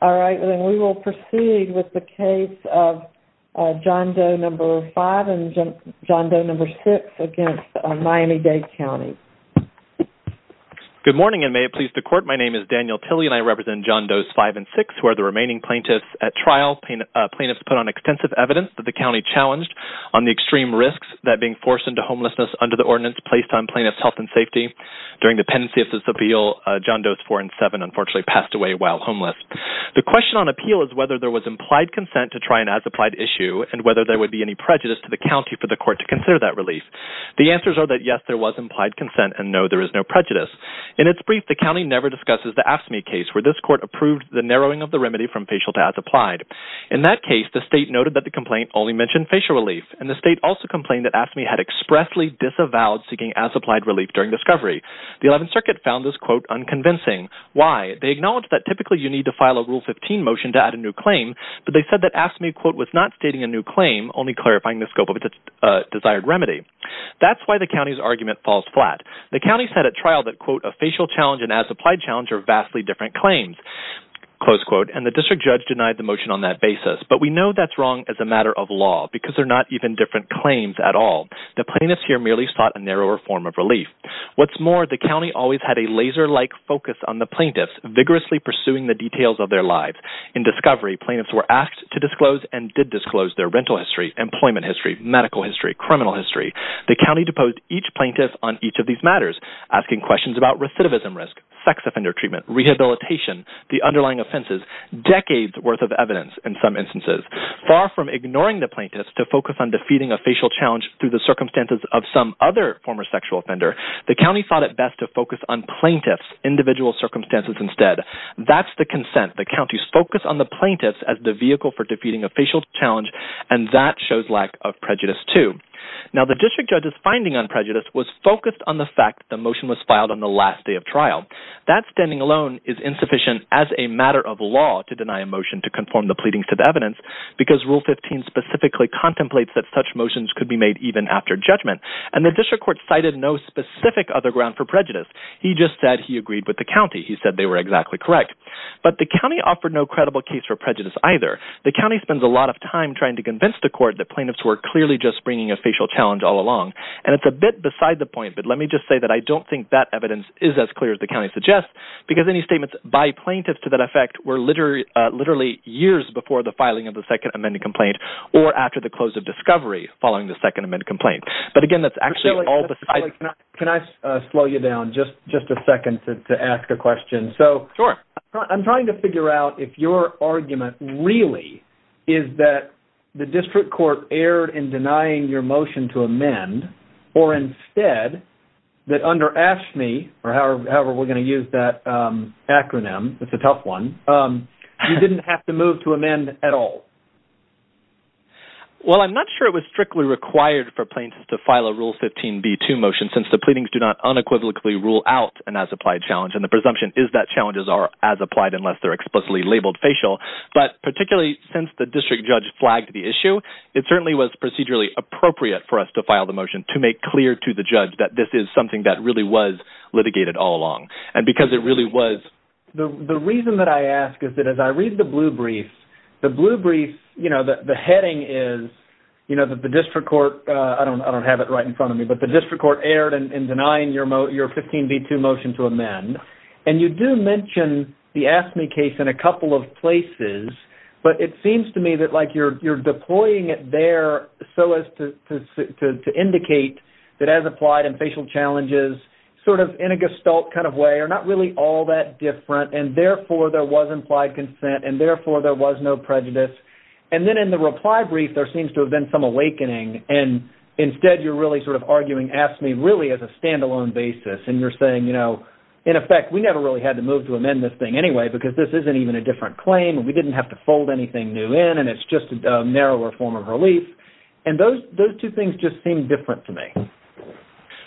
We will proceed with the case of John Doe No. 5 and John Doe No. 6 v. Miami Dade County Good morning and may it please the court. My name is Daniel Tilley and I represent John Doe's 5 and 6 who are the remaining plaintiffs at trial. Plaintiffs put on extensive evidence that the county challenged on the extreme risks that being forced into homelessness under the ordinance placed on plaintiffs' health and safety. During the pendency of this appeal, John Doe's 4 and 7 unfortunately passed away while homeless. The question on appeal is whether there was implied consent to try an as-applied issue and whether there would be any prejudice to the county for the court to consider that relief. The answers are that yes, there was implied consent and no, there is no prejudice. In its brief, the county never discusses the AFSCME case where this court approved the narrowing of the remedy from facial to as-applied. In that case, the state noted that the complaint only mentioned facial relief, and the state also complained that AFSCME had expressly disavowed seeking as-applied relief during discovery. The 11th Circuit found this quote, unconvincing. Why? They acknowledged that typically you need to file a Rule 15 motion to add a new claim, but they said that AFSCME quote, was not stating a new claim, only clarifying the scope of its desired remedy. That's why the county's argument falls flat. The county said at trial that quote, a facial challenge and as-applied challenge are vastly different claims. Close quote. And the district judge denied the motion on that basis. But we know that's wrong as a matter of law because they're not even different claims at all. The plaintiffs here merely sought a narrower form of relief. What's more, the county always had a laser-like focus on the plaintiffs, vigorously pursuing the details of their lives. In discovery, plaintiffs were asked to disclose and did disclose their rental history, employment history, medical history, criminal history. The county deposed each plaintiff on each of these matters, asking questions about recidivism risk, sex offender treatment, rehabilitation, the underlying offenses, decades worth of evidence in some instances. Far from ignoring the plaintiffs to focus on defeating a facial challenge through the circumstances of some other former sexual offender, the county thought it best to focus on plaintiffs' individual circumstances instead. That's the consent. The county's focus on the plaintiffs as the vehicle for defeating a facial challenge, and that shows lack of prejudice too. Now, the district judge's finding on prejudice was focused on the fact that the motion was filed on the last day of trial. That standing alone is insufficient as a matter of law to deny a motion to conform the pleadings to the evidence because Rule 15 specifically contemplates that such motions could be made even after judgment. And the district court cited no specific other ground for prejudice. He just said he agreed with the county. He said they were exactly correct. But the county offered no credible case for prejudice either. The county spends a lot of time trying to convince the court that plaintiffs were clearly just bringing a facial challenge all along. And it's a bit beside the point, but let me just say that I don't think that evidence is as clear as the county suggests because any statements by plaintiffs to that effect were literally years before the filing of the Second Amendment complaint or after the close of discovery following the Second Amendment complaint. But again, that's actually all besides… Can I slow you down just a second to ask a question? Sure. I'm trying to figure out if your argument really is that the district court erred in denying your motion to amend or instead that under AFSCME, or however we're going to use that acronym, it's a tough one, you didn't have to move to amend at all. Well, I'm not sure it was strictly required for plaintiffs to file a Rule 15b-2 motion since the pleadings do not unequivocally rule out an as-applied challenge. And the presumption is that challenges are as-applied unless they're explicitly labeled facial. But particularly since the district judge flagged the issue, it certainly was procedurally appropriate for us to file the motion to make clear to the judge that this is something that really was litigated all along. The reason that I ask is that as I read the blue brief, the blue brief, you know, the heading is, you know, that the district court… I don't have it right in front of me, but the district court erred in denying your 15b-2 motion to amend. And you do mention the AFSCME case in a couple of places, but it seems to me that, like, you're deploying it there so as to indicate that as-applied and facial challenges sort of in a gestalt kind of way are not really all that different, and therefore there was implied consent, and therefore there was no prejudice. And then in the reply brief, there seems to have been some awakening, and instead you're really sort of arguing AFSCME really as a standalone basis, and you're saying, you know, in effect, we never really had to move to amend this thing anyway because this isn't even a different claim, and we didn't have to fold anything new in, and it's just a narrower form of relief. And those two things just seem different to me.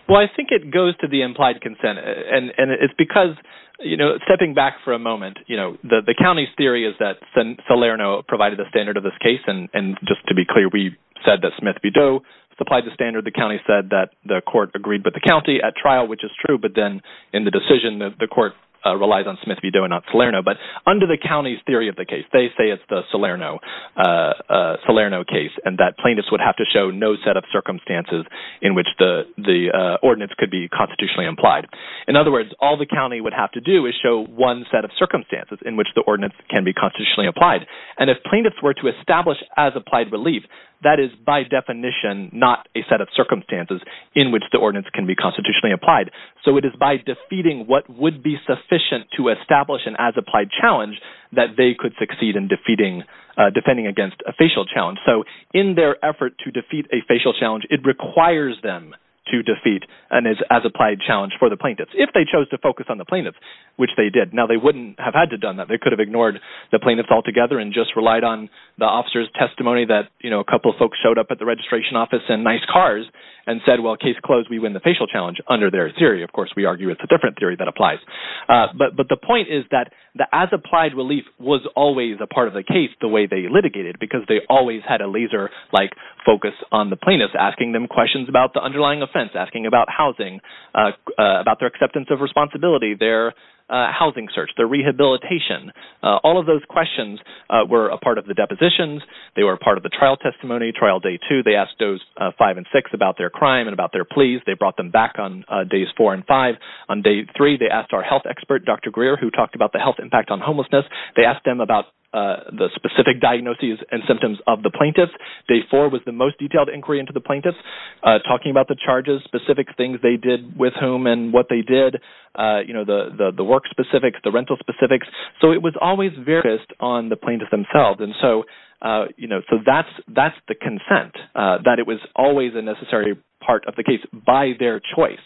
Well, I think it goes to the implied consent, and it's because, you know, stepping back for a moment, you know, the county's theory is that Salerno provided the standard of this case, and just to be clear, we said that Smith v. Doe supplied the standard. The county said that the court agreed with the county at trial, which is true, but then in the decision, the court relies on Smith v. Doe and not Salerno. But under the county's theory of the case, they say it's the Salerno case, and that plaintiffs would have to show no set of circumstances in which the ordinance could be constitutionally implied. In other words, all the county would have to do is show one set of circumstances in which the ordinance can be constitutionally applied. And if plaintiffs were to establish an as-applied relief, that is by definition not a set of circumstances in which the ordinance can be constitutionally applied. So it is by defeating what would be sufficient to establish an as-applied challenge that they could succeed in defending against a facial challenge. So in their effort to defeat a facial challenge, it requires them to defeat an as-applied challenge for the plaintiffs if they chose to focus on the plaintiffs, which they did. Now, they wouldn't have had to done that. They could have ignored the plaintiffs altogether and just relied on the officer's testimony that a couple folks showed up at the registration office in nice cars and said, well, case closed, we win the facial challenge under their theory. Of course, we argue it's a different theory that applies. But the point is that the as-applied relief was always a part of the case the way they litigated, because they always had a laser-like focus on the plaintiffs, asking them questions about the underlying offense, asking about housing, about their acceptance of responsibility, their housing search, their rehabilitation. All of those questions were a part of the depositions. They were a part of the trial testimony, trial day two. They asked those five and six about their crime and about their pleas. They brought them back on days four and five. On day three, they asked our health expert, Dr. Greer, who talked about the health impact on homelessness. They asked them about the specific diagnoses and symptoms of the plaintiffs. Day four was the most detailed inquiry into the plaintiffs, talking about the charges, specific things they did with whom and what they did, the work specifics, the rental specifics. So it was always focused on the plaintiffs themselves. And so that's the consent, that it was always a necessary part of the case by their choice.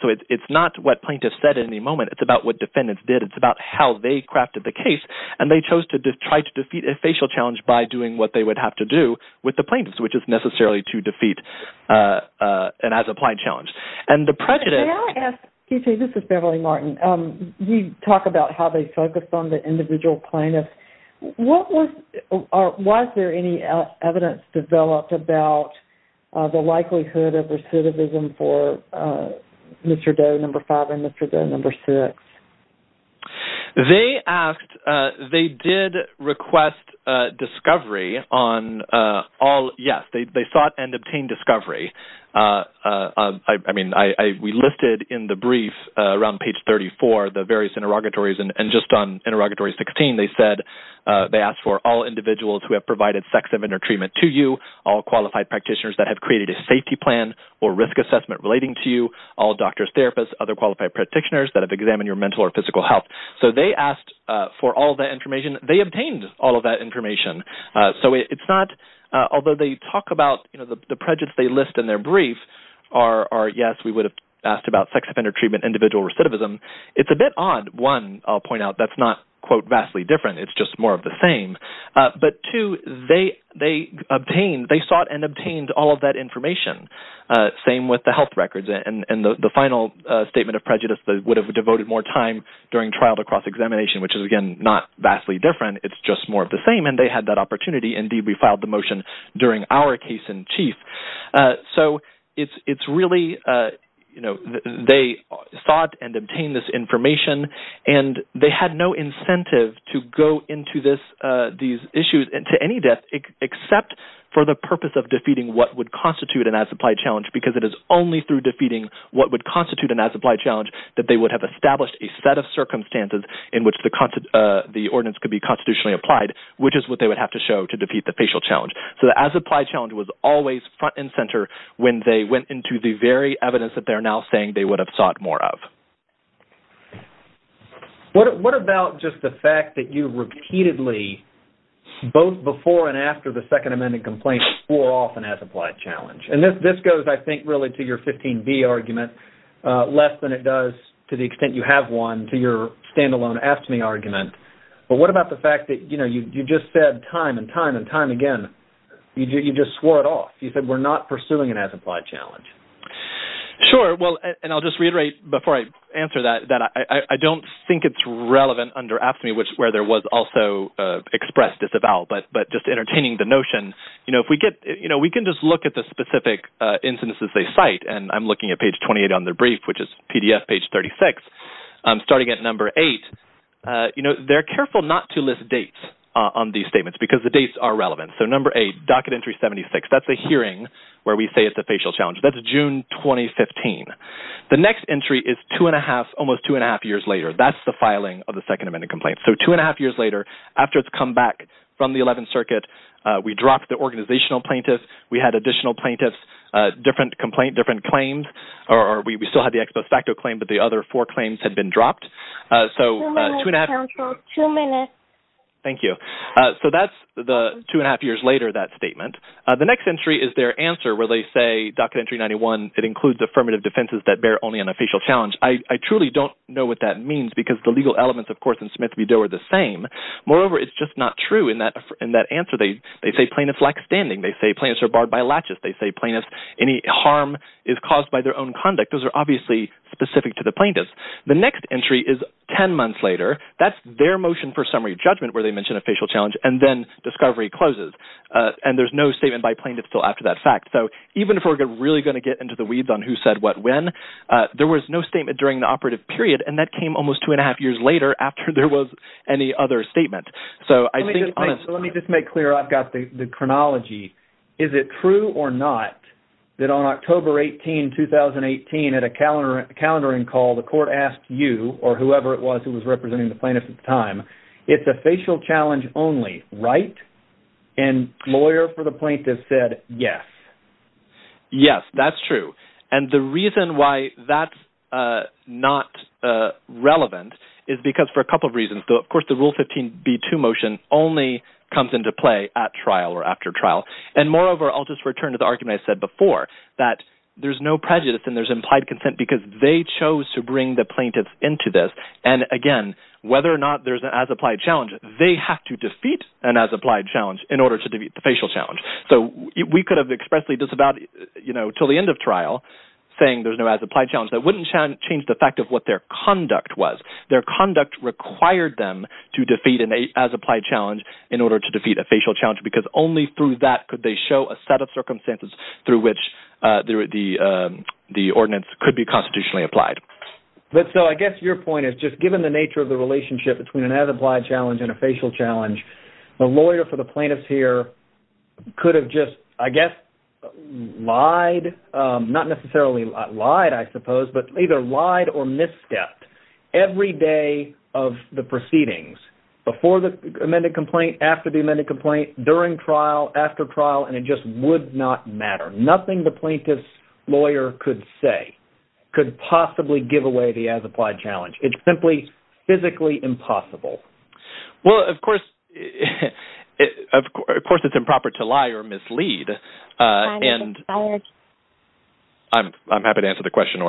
So it's not what plaintiffs said in any moment. It's about what defendants did. It's about how they crafted the case, and they chose to try to defeat a facial challenge by doing what they would have to do with the plaintiffs, which is necessarily to defeat an as-applied challenge. May I ask, this is Beverly Martin, you talk about how they focused on the individual plaintiffs. Was there any evidence developed about the likelihood of recidivism for Mr. Doe, number five, and Mr. Doe, number six? They asked, they did request discovery on all, yes, they sought and obtained discovery. I mean, we listed in the brief around page 34 the various interrogatories, and just on interrogatory 16, they said they asked for all individuals who have provided sex offender treatment to you, all qualified practitioners that have created a safety plan or risk assessment relating to you, all doctors, therapists, other qualified practitioners that have examined your mental or physical health. So they asked for all that information. They obtained all of that information. So it's not, although they talk about, you know, the prejudice they list in their brief are, yes, we would have asked about sex offender treatment, individual recidivism. It's a bit odd. One, I'll point out, that's not, quote, vastly different. It's just more of the same. But two, they obtained, they sought and obtained all of that information. Same with the health records. And the final statement of prejudice, they would have devoted more time during trial to cross-examination, which is, again, not vastly different. It's just more of the same, and they had that opportunity. Indeed, we filed the motion during our case in chief. So it's really, you know, they sought and obtained this information, and they had no incentive to go into these issues to any depth except for the purpose of defeating what would constitute an as-applied challenge, because it is only through defeating what would constitute an as-applied challenge that they would have established a set of circumstances in which the ordinance could be constitutionally applied, which is what they would have to show to defeat the facial challenge. So the as-applied challenge was always front and center when they went into the very evidence that they're now saying they would have sought more of. What about just the fact that you repeatedly, both before and after the Second Amendment complaint, swore off an as-applied challenge? And this goes, I think, really to your 15B argument, less than it does to the extent you have one to your standalone AFSCME argument. But what about the fact that, you know, you just said time and time and time again, you just swore it off. You said, we're not pursuing an as-applied challenge. Sure. Well, and I'll just reiterate before I answer that, that I don't think it's relevant under AFSCME, which is where there was also expressed as a vow, but just entertaining the notion. You know, if we get, you know, we can just look at the specific instances they cite, and I'm looking at page 28 on their brief, which is PDF page 36. Starting at number eight, you know, they're careful not to list dates on these statements, because the dates are relevant. So number eight, docket entry 76, that's a hearing where we say it's a facial challenge. That's June 2015. The next entry is two and a half, almost two and a half years later. That's the filing of the Second Amendment complaint. So two and a half years later, after it's come back from the 11th Circuit, we dropped the organizational plaintiff. We had additional plaintiffs, different complaint, different claims, or we still had the ex post facto claim, but the other four claims had been dropped. Two minutes, counsel. Two minutes. Thank you. So that's the two and a half years later, that statement. The next entry is their answer where they say, docket entry 91, it includes affirmative defenses that bear only an official challenge. I truly don't know what that means, because the legal elements, of course, in Smith v. Doe are the same. Moreover, it's just not true in that answer. They say plaintiffs lack standing. They say plaintiffs are barred by laches. They say plaintiffs, any harm is caused by their own conduct. Those are obviously specific to the plaintiffs. The next entry is ten months later. That's their motion for summary judgment where they mention official challenge, and then discovery closes. And there's no statement by plaintiffs still after that fact. So even if we're really going to get into the weeds on who said what when, there was no statement during the operative period, and that came almost two and a half years later after there was any other statement. Let me just make clear. I've got the chronology. Is it true or not that on October 18, 2018, at a calendaring call, the court asked you, or whoever it was who was representing the plaintiffs at the time, it's official challenge only, right? And lawyer for the plaintiff said yes. Yes, that's true. And the reason why that's not relevant is because for a couple of reasons. Of course, the Rule 15b-2 motion only comes into play at trial or after trial. And moreover, I'll just return to the argument I said before, that there's no prejudice and there's implied consent because they chose to bring the plaintiffs into this. And, again, whether or not there's an as-applied challenge, they have to defeat an as-applied challenge in order to defeat the facial challenge. So we could have expressly just about, you know, until the end of trial saying there's no as-applied challenge. That wouldn't change the fact of what their conduct was. Their conduct required them to defeat an as-applied challenge in order to defeat a facial challenge because only through that could they show a set of circumstances through which the ordinance could be constitutionally applied. So I guess your point is just given the nature of the relationship between an as-applied challenge and a facial challenge, the lawyer for the plaintiff here could have just, I guess, lied, not necessarily lied, I suppose, but either lied or misstepped. Every day of the proceedings, before the amended complaint, after the amended complaint, during trial, after trial, and it just would not matter. Nothing the plaintiff's lawyer could say could possibly give away the as-applied challenge. It's simply physically impossible. Well, of course, it's improper to lie or mislead. I'm happy to answer the question.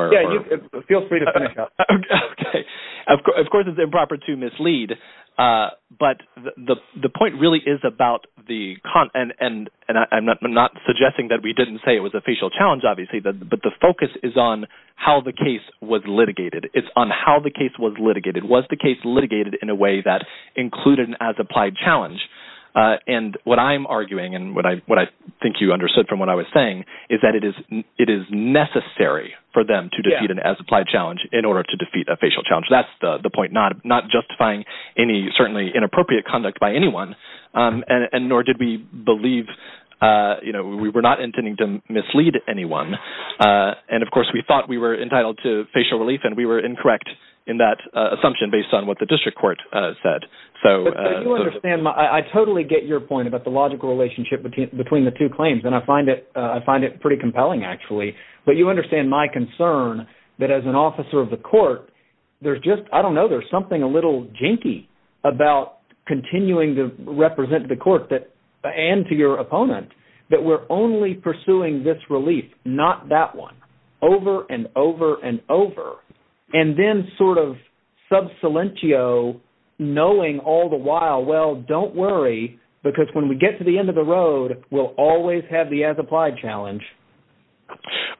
Feel free to finish up. Okay. Of course, it's improper to mislead, but the point really is about the – and I'm not suggesting that we didn't say it was a facial challenge, obviously, but the focus is on how the case was litigated. It's on how the case was litigated. Was the case litigated in a way that included an as-applied challenge? And what I'm arguing and what I think you understood from what I was saying is that it is necessary for them to defeat an as-applied challenge in order to defeat a facial challenge. That's the point, not justifying any certainly inappropriate conduct by anyone, and nor did we believe – we were not intending to mislead anyone. And, of course, we thought we were entitled to facial relief, and we were incorrect in that assumption based on what the district court said. I totally get your point about the logical relationship between the two claims, and I find it pretty compelling, actually. But you understand my concern that as an officer of the court, there's just – I don't know, there's something a little jinky about continuing to represent the court and to your opponent that we're only pursuing this relief, not that one, over and over and over, and then sort of sub silentio, knowing all the while, well, don't worry, because when we get to the end of the road, we'll always have the as-applied challenge.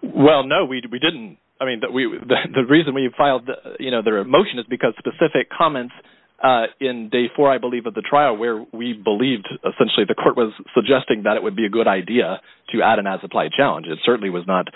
Well, no, we didn't. I mean, the reason we filed their motion is because specific comments in day four, I believe, of the trial where we believed – essentially, the court was suggesting that it would be a good idea to add an as-applied challenge. It certainly was not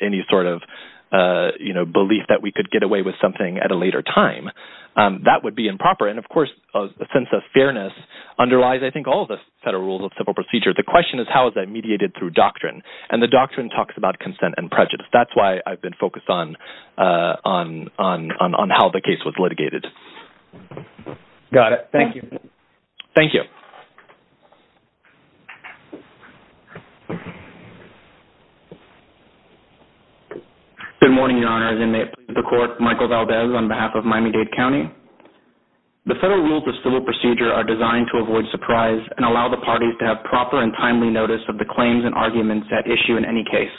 any sort of belief that we could get away with something at a later time. That would be improper, and, of course, a sense of fairness underlies, I think, all the federal rules of civil procedure. The question is how is that mediated through doctrine, and the doctrine talks about consent and prejudice. That's why I've been focused on how the case was litigated. Got it. Thank you. Thank you. Good morning, Your Honor. As inmate of the court, Michael Valdez on behalf of Miami-Dade County. The federal rules of civil procedure are designed to avoid surprise and allow the parties to have proper and timely notice of the claims and arguments at issue in any case.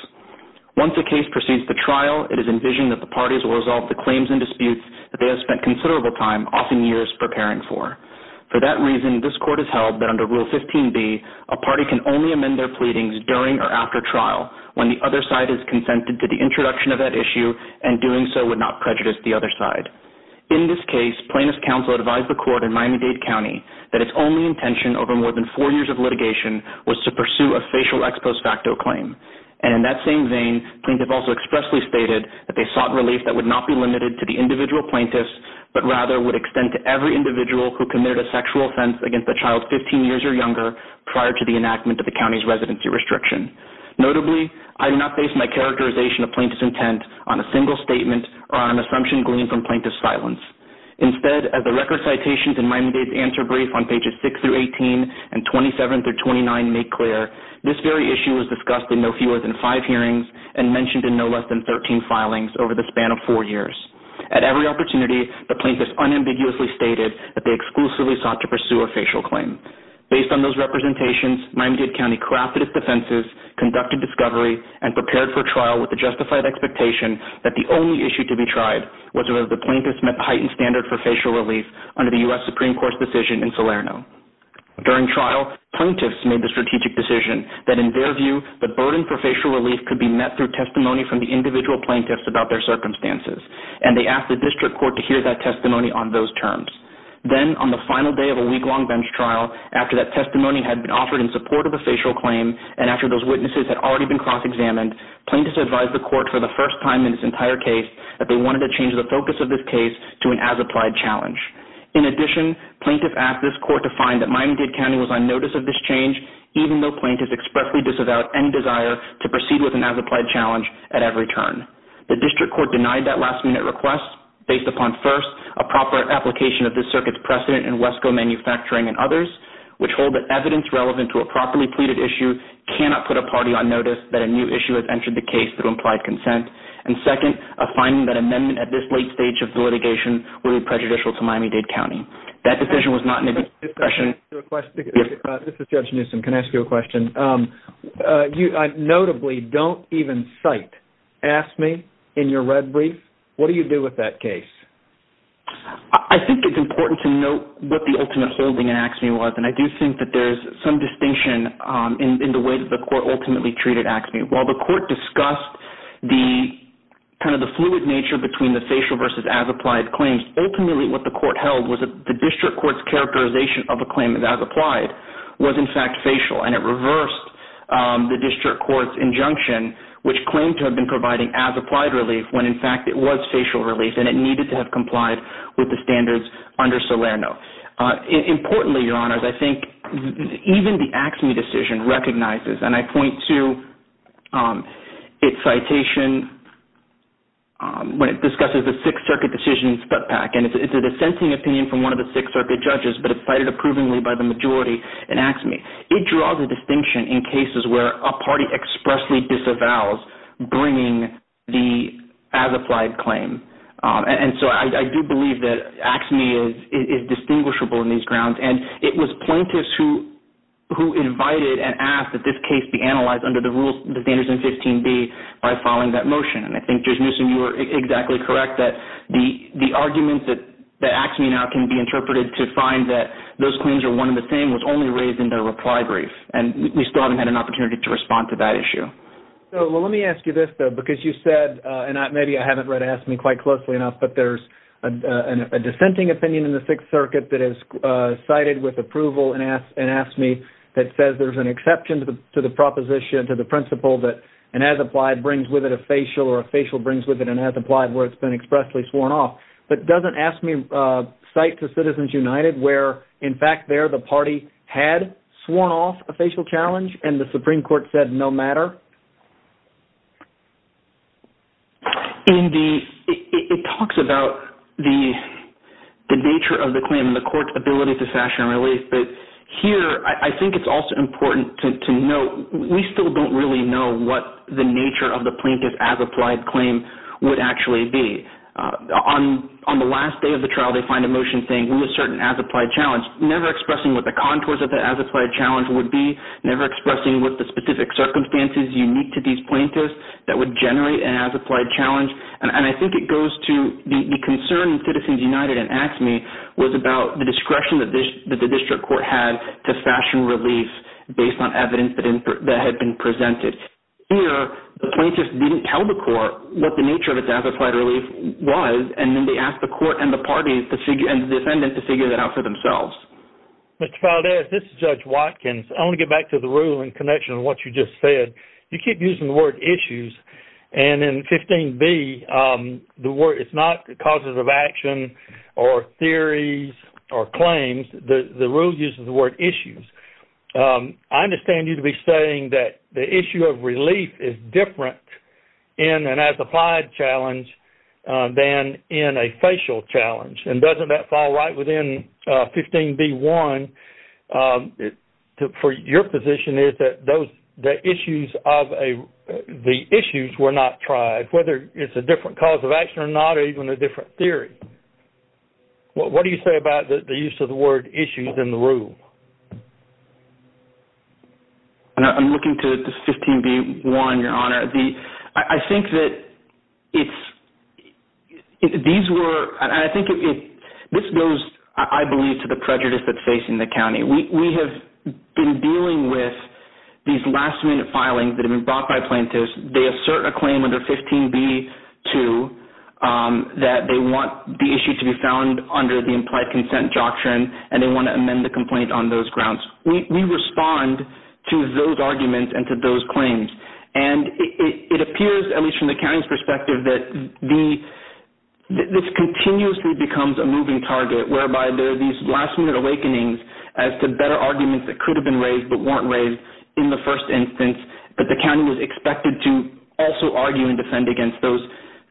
Once a case proceeds to trial, it is envisioned that the parties will resolve the claims and disputes that they have spent considerable time, often years, preparing for. For that reason, this court has held that under Rule 15b, a party can only amend their pleadings during or after trial when the other side has consented to the introduction of that issue and doing so would not prejudice the other side. In this case, plaintiff's counsel advised the court in Miami-Dade County that its only intention over more than four years of litigation was to pursue a facial ex post facto claim. And in that same vein, plaintiff also expressly stated that they sought relief that would not be limited to the individual plaintiffs, but rather would extend to every individual who committed a sexual offense against a child 15 years or younger, prior to the enactment of the county's residency restriction. Notably, I do not base my characterization of plaintiff's intent on a single statement or on an assumption gleaned from plaintiff's silence. Instead, as the record citations in Miami-Dade's answer brief on pages 6-18 and 27-29 make clear, this very issue was discussed in no fewer than five hearings and mentioned in no less than 13 filings over the span of four years. At every opportunity, the plaintiffs unambiguously stated that they exclusively sought to pursue a facial claim. Based on those representations, Miami-Dade County crafted its defenses, conducted discovery, and prepared for trial with the justified expectation that the only issue to be tried was whether the plaintiffs met the heightened standard for facial relief under the U.S. Supreme Court's decision in Salerno. During trial, plaintiffs made the strategic decision that in their view, the burden for facial relief could be met through testimony from the individual plaintiffs about their circumstances. And they asked the district court to hear that testimony on those terms. Then, on the final day of a week-long bench trial, after that testimony had been offered in support of a facial claim and after those witnesses had already been cross-examined, plaintiffs advised the court for the first time in this entire case that they wanted to change the focus of this case to an as-applied challenge. In addition, plaintiffs asked this court to find that Miami-Dade County was on notice of this change, even though plaintiffs expressly disavowed any desire to proceed with an as-applied challenge at every turn. The district court denied that last-minute request based upon, first, a proper application of this circuit's precedent in WESCO manufacturing and others, which hold that evidence relevant to a properly pleaded issue cannot put a party on notice that a new issue has entered the case through implied consent, and second, a finding that an amendment at this late stage of the litigation would be prejudicial to Miami-Dade County. That decision was not in the discussion. This is Judge Newsom. Can I ask you a question? Notably, don't even cite. You don't cite AFSCME in your red brief. What do you do with that case? I think it's important to note what the ultimate holding in AFSCME was, and I do think that there's some distinction in the way that the court ultimately treated AFSCME. While the court discussed kind of the fluid nature between the facial versus as-applied claims, ultimately what the court held was the district court's characterization of a claim as as-applied was in fact facial, and it reversed the district court's injunction, which claimed to have been providing as-applied relief when in fact it was facial relief, and it needed to have complied with the standards under Salerno. Importantly, Your Honors, I think even the AFSCME decision recognizes, and I point to its citation when it discusses the Sixth Circuit decision in Sputnik, and it's a dissenting opinion from one of the Sixth Circuit judges, but it's cited approvingly by the majority in AFSCME. It draws a distinction in cases where a party expressly disavows bringing the as-applied claim, and so I do believe that AFSCME is distinguishable in these grounds, and it was plaintiffs who invited and asked that this case be analyzed under the rules, the standards in 15B by filing that motion, and I think, Judge Newsom, you were exactly correct that the argument that AFSCME now can be interpreted to find that those claims are one and the same was only raised in the reply brief, and we still haven't had an opportunity to respond to that issue. Well, let me ask you this, though, because you said, and maybe I haven't read AFSCME quite closely enough, but there's a dissenting opinion in the Sixth Circuit that is cited with approval in AFSCME that says there's an exception to the proposition, to the principle that an as-applied brings with it a facial or a facial brings with it an as-applied where it's been expressly sworn off, but doesn't AFSCME cite to Citizens United where, in fact, there the party had sworn off a facial challenge and the Supreme Court said no matter? It talks about the nature of the claim and the court's ability to sash and release, but here I think it's also important to note we still don't really know what the nature of the plaintiff's as-applied claim would actually be. On the last day of the trial, they find a motion saying we assert an as-applied challenge, never expressing what the contours of the as-applied challenge would be, never expressing what the specific circumstances unique to these plaintiffs that would generate an as-applied challenge, and I think it goes to the concern Citizens United and AFSCME was about the discretion that the district court had to sash and release based on evidence that had been presented. Here, the plaintiffs didn't tell the court what the nature of its as-applied relief was and then they asked the court and the parties and the defendant to figure that out for themselves. Mr. Valdez, this is Judge Watkins. I want to get back to the rule in connection to what you just said. You keep using the word issues, and in 15b, it's not causes of action or theories or claims. The rule uses the word issues. I understand you to be saying that the issue of relief is different in an as-applied challenge than in a facial challenge, and doesn't that fall right within 15b-1 for your position is that the issues were not tried, whether it's a different cause of action or not or even a different theory. What do you say about the use of the word issues in the rule? I'm looking to 15b-1, Your Honor. This goes, I believe, to the prejudice that's facing the county. We have been dealing with these last-minute filings that have been brought by plaintiffs. They assert a claim under 15b-2 that they want the issue to be found under the implied consent doctrine, and they want to amend the complaint on those grounds. We respond to those arguments and to those claims, and it appears, at least from the county's perspective, that this continuously becomes a moving target, whereby there are these last-minute awakenings as to better arguments that could have been raised but weren't raised in the first instance, but the county was expected to also argue and defend against those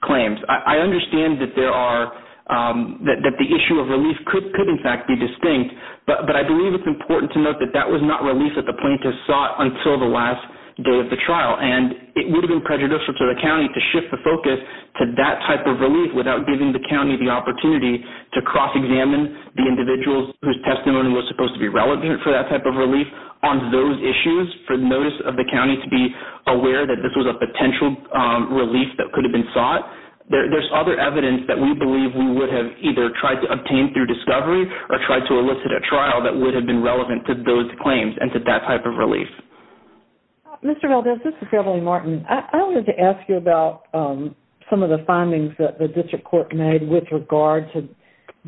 claims. I understand that the issue of relief could, in fact, be distinct, but I believe it's important to note that that was not relief that the plaintiffs sought until the last day of the trial, and it would have been prejudicial to the county to shift the focus to that type of relief without giving the county the opportunity to cross-examine the individuals whose testimony was supposed to be relevant for that type of relief on those issues for the notice of the county to be aware that this was a potential relief that could have been sought. There's other evidence that we believe we would have either tried to obtain through discovery or tried to elicit a trial that would have been relevant to those claims and to that type of relief. Mr. Valdez, this is Beverly Martin. I wanted to ask you about some of the findings that the district court made with regard to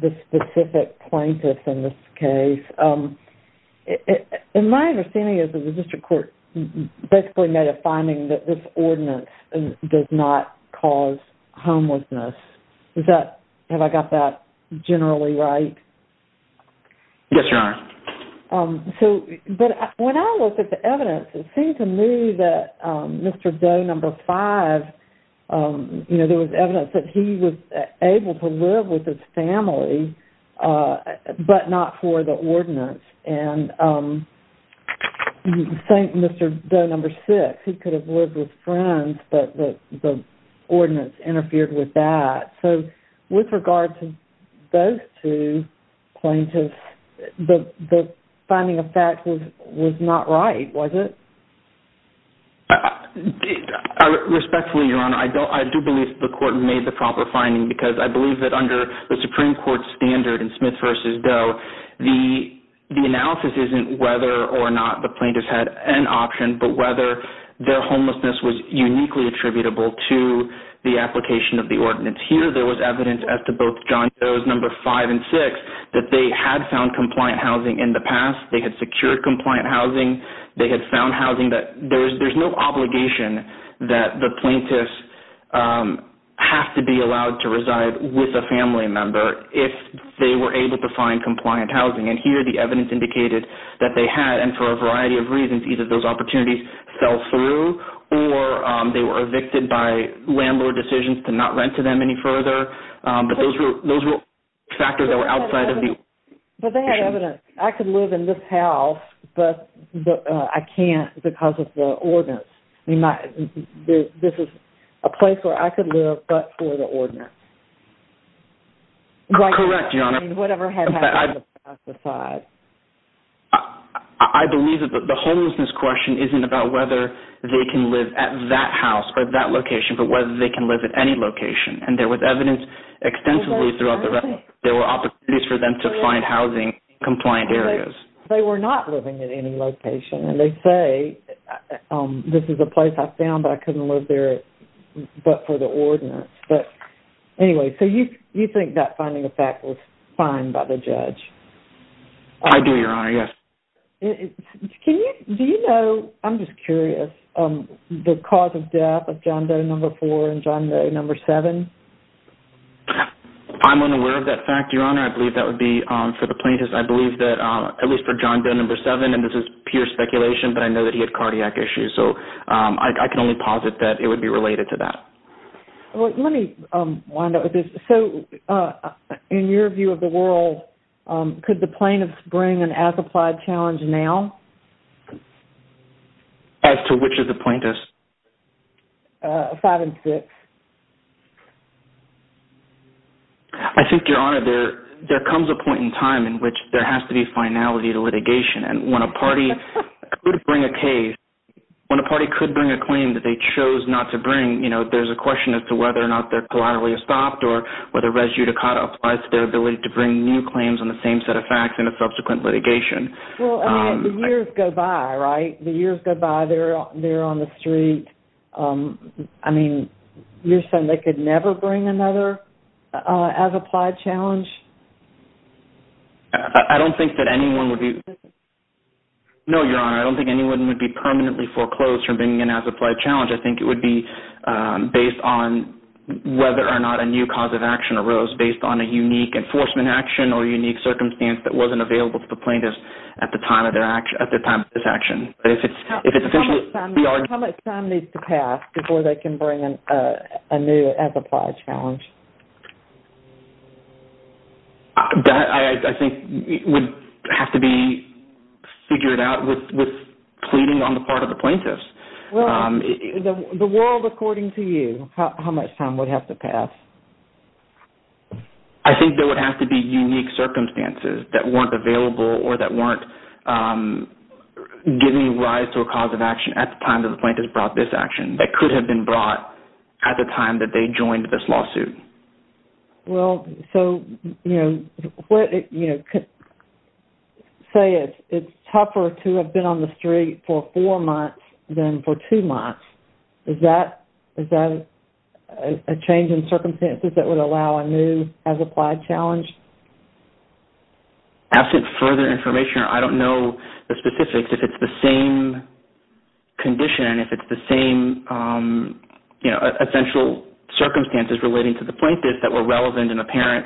the specific plaintiffs in this case. My understanding is that the district court basically made a finding that this ordinance does not cause homelessness. Have I got that generally right? Yes, Your Honor. When I looked at the evidence, it seemed to me that Mr. Doe No. 5, there was evidence that he was able to live with his family but not for the ordinance. Mr. Doe No. 6, he could have lived with friends, but the ordinance interfered with that. With regard to those two plaintiffs, the finding of that was not right, was it? Respectfully, Your Honor, I do believe the court made the proper finding because I believe that under the Supreme Court standard in Smith v. Doe, the analysis isn't whether or not the plaintiffs had an option, but whether their homelessness was uniquely attributable to the application of the ordinance. Here, there was evidence as to both John Doe No. 5 and 6 that they had found compliant housing in the past. They had secured compliant housing. They had found housing that there's no obligation that the plaintiffs have to be allowed to reside with a family member if they were able to find compliant housing. Here, the evidence indicated that they had, and for a variety of reasons, either those opportunities fell through or they were evicted by landlord decisions to not rent to them any further. Those were factors that were outside of the issue. But they had evidence. I could live in this house, but I can't because of the ordinance. This is a place where I could live, but for the ordinance. Correct, Your Honor. I believe that the homelessness question isn't about whether they can live at that house or that location, but whether they can live at any location. And there was evidence extensively throughout the record that there were opportunities for them to find housing in compliant areas. They were not living at any location. And they say, this is a place I found, but I couldn't live there but for the ordinance. Anyway, so you think that finding of fact was fine by the judge? I do, Your Honor, yes. Do you know, I'm just curious, the cause of death of John Doe No. 4 and John Doe No. 7? I'm unaware of that fact, Your Honor. I believe that would be, for the plaintiffs, I believe that, at least for John Doe No. 7, and this is pure speculation, but I know that he had cardiac issues. So I can only posit that it would be related to that. Let me wind up with this. So in your view of the world, could the plaintiffs bring an as-applied challenge now? As to which of the plaintiffs? Five and six. I think, Your Honor, there comes a point in time in which there has to be finality to litigation. And when a party could bring a case, when a party could bring a claim that they chose not to bring, there's a question as to whether or not they're collaterally stopped or whether res judicata applies to their ability to bring new claims on the same set of facts in a subsequent litigation. Well, I mean, the years go by, right? The years go by. They're on the street. I mean, you're saying they could never bring another as-applied challenge? I don't think that anyone would be... No, Your Honor, I don't think anyone would be permanently foreclosed from bringing an as-applied challenge. I think it would be based on whether or not a new cause of action arose based on a unique enforcement action or a unique circumstance that wasn't available to the plaintiffs at the time of this action. How much time needs to pass before they can bring a new as-applied challenge? That, I think, would have to be figured out with pleading on the part of the plaintiffs. The world according to you, how much time would have to pass? I think there would have to be unique circumstances that weren't available or that weren't giving rise to a cause of action at the time that the plaintiffs brought this action that could have been brought at the time that they joined this lawsuit. Well, so, you know, say it's tougher to have been on the street for four months than for two months. Is that a change in circumstances that would allow a new as-applied challenge? Absent further information, I don't know the specifics. If it's the same condition, if it's the same essential circumstances relating to the plaintiffs that were relevant and apparent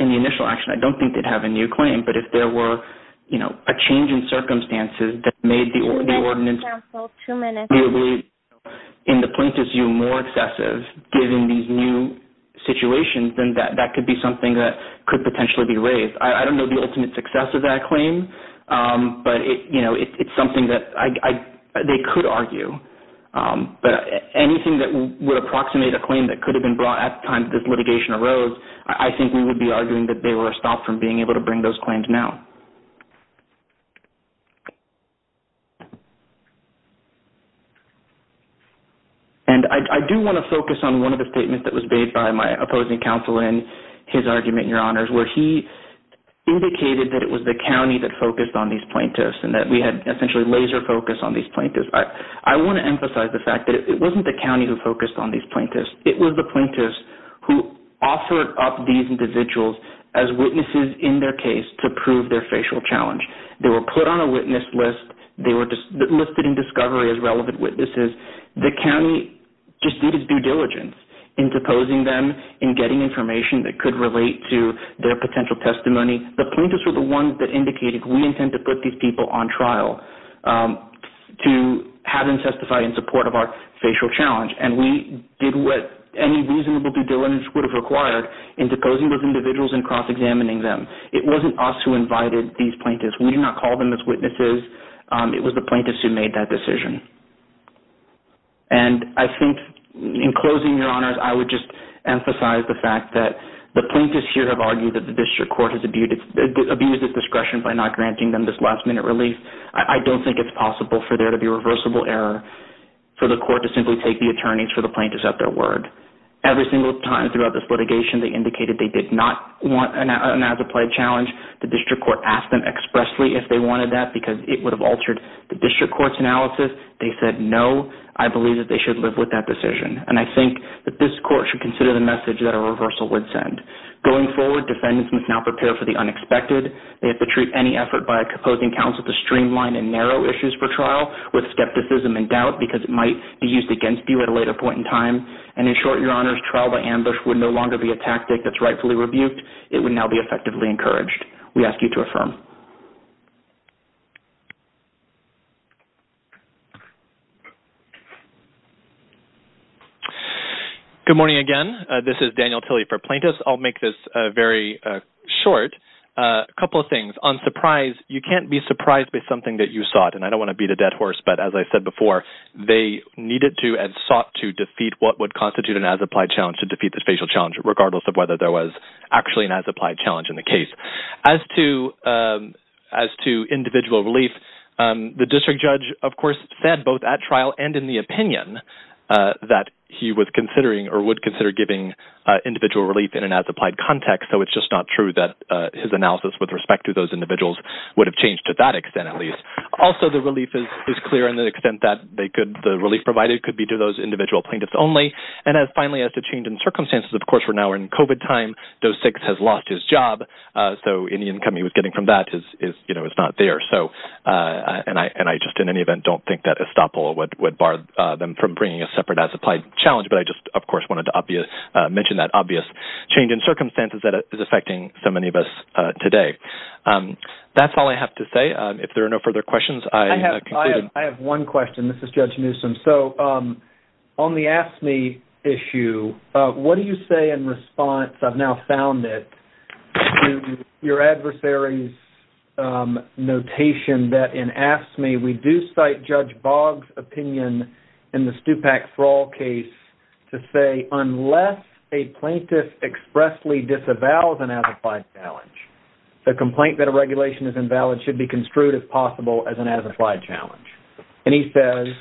in the initial action, I don't think they'd have a new claim. But if there were a change in circumstances that made the ordinance in the plaintiff's view more excessive given these new situations, then that could be something that could potentially be raised. I don't know the ultimate success of that claim. But, you know, it's something that they could argue. But anything that would approximate a claim that could have been brought at the time this litigation arose, I think we would be arguing that they were stopped from being able to bring those claims now. And I do want to focus on one of the statements that was made by my opposing counsel in his argument, Your Honors, where he indicated that it was the county that focused on these plaintiffs and that we had essentially laser focus on these plaintiffs. I want to emphasize the fact that it wasn't the county who focused on these plaintiffs. It was the plaintiffs who offered up these individuals as witnesses in their case to prove their facial challenge. They were put on a witness list. They were listed in discovery as relevant witnesses. The county just did its due diligence in deposing them, in getting information that could relate to their potential testimony. The plaintiffs were the ones that indicated we intend to put these people on trial to have them testify in support of our facial challenge. And we did what any reasonable due diligence would have required in deposing those individuals and cross-examining them. It wasn't us who invited these plaintiffs. We did not call them as witnesses. It was the plaintiffs who made that decision. And I think in closing, Your Honors, I would just emphasize the fact that the plaintiffs here have argued that the district court has abused its discretion by not granting them this last-minute release. I don't think it's possible for there to be reversible error for the court to simply take the attorneys for the plaintiffs at their word. Every single time throughout this litigation they indicated they did not want an as-applied challenge. The district court asked them expressly if they wanted that because it would have altered the district court's analysis. They said no. I believe that they should live with that decision. And I think that this court should consider the message that a reversal would send. Going forward, defendants must now prepare for the unexpected. They have to treat any effort by a composing counsel to streamline and narrow issues for trial with skepticism and doubt because it might be used against you at a later point in time. And in short, Your Honors, trial by ambush would no longer be a tactic that's rightfully rebuked. It would now be effectively encouraged. We ask you to affirm. Good morning again. This is Daniel Tilley for plaintiffs. I'll make this very short. A couple of things. On surprise, you can't be surprised by something that you sought. And I don't want to beat a dead horse, but as I said before, they needed to and sought to defeat what would constitute an as-applied challenge regardless of whether there was actually an as-applied challenge in the case. As to individual relief, the district judge, of course, said both at trial and in the opinion that he was considering or would consider giving individual relief in an as-applied context. So it's just not true that his analysis with respect to those individuals would have changed to that extent at least. Also, the relief is clear in the extent that the relief provided could be to those individual plaintiffs only. And finally, as to change in circumstances, of course, we're now in COVID time. Dose 6 has lost his job, so any income he was getting from that is not there. And I just, in any event, don't think that estoppel would bar them from bringing a separate as-applied challenge. But I just, of course, wanted to mention that obvious change in circumstances that is affecting so many of us today. That's all I have to say. If there are no further questions, I am concluding. I have one question. This is Judge Newsom. So on the AFSCME issue, what do you say in response, I've now found it, to your adversary's notation that in AFSCME, we do cite Judge Boggs' opinion in the Stupak-Thrall case to say, unless a plaintiff expressly disavows an as-applied challenge, the complaint that a regulation is invalid should be construed as possible as an as-applied challenge. And he says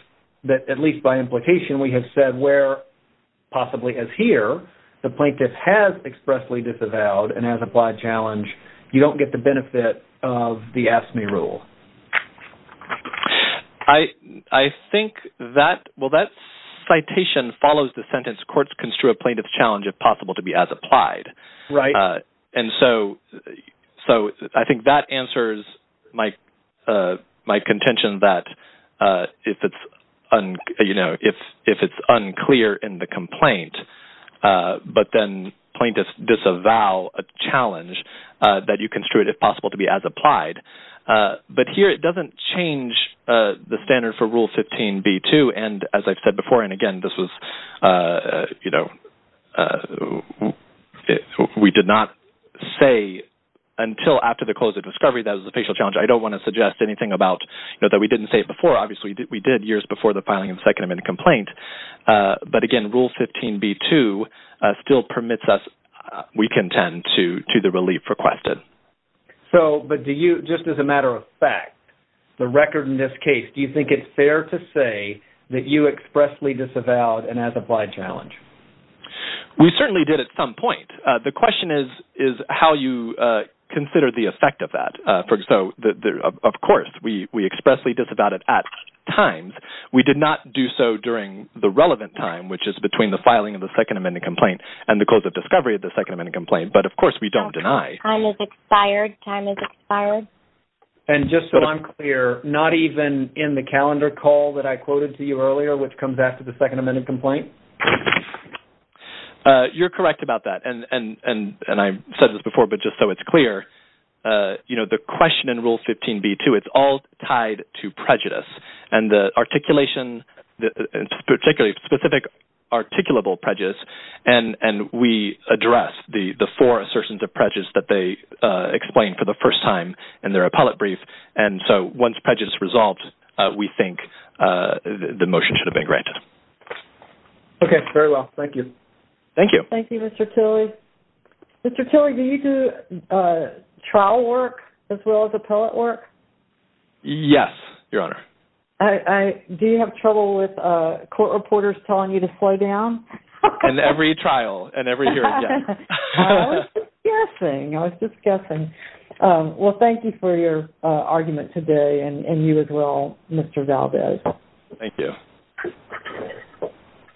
that, at least by implication, we have said where possibly as here, the plaintiff has expressly disavowed an as-applied challenge, you don't get the benefit of the AFSCME rule. I think that, well, that citation follows the sentence, courts construe a plaintiff's challenge as possible to be as applied. And so I think that answers my contention that if it's unclear in the complaint, but then plaintiffs disavow a challenge, that you construe it as possible to be as applied. But here it doesn't change the standard for Rule 15b-2. And as I've said before, and again, we did not say until after the close of discovery that it was a facial challenge. I don't want to suggest anything that we didn't say before. Obviously, we did years before the filing of the Second Amendment complaint. But again, Rule 15b-2 still permits us, we contend, to the relief requested. So, but do you, just as a matter of fact, the record in this case, do you think it's fair to say that you expressly disavowed an as-applied challenge? We certainly did at some point. The question is how you consider the effect of that. So, of course, we expressly disavowed it at times. We did not do so during the relevant time, which is between the filing of the Second Amendment complaint and the close of discovery of the Second Amendment complaint. But, of course, we don't deny. Time has expired. Time has expired. And just so I'm clear, not even in the calendar call that I quoted to you earlier, which comes after the Second Amendment complaint? You're correct about that. And I've said this before, but just so it's clear, you know, the question in Rule 15b-2, it's all tied to prejudice. And the articulation, particularly specific articulable prejudice, and we address the four assertions of prejudice that they explained for the first time in their appellate brief. And so once prejudice is resolved, we think the motion should have been granted. Okay. Very well. Thank you. Thank you. Thank you, Mr. Tilley. Mr. Tilley, do you do trial work as well as appellate work? Yes, Your Honor. Do you have trouble with court reporters telling you to slow down? In every trial and every hearing, yes. I was just guessing. I was just guessing. Well, thank you for your argument today and you as well, Mr. Valdez. Thank you.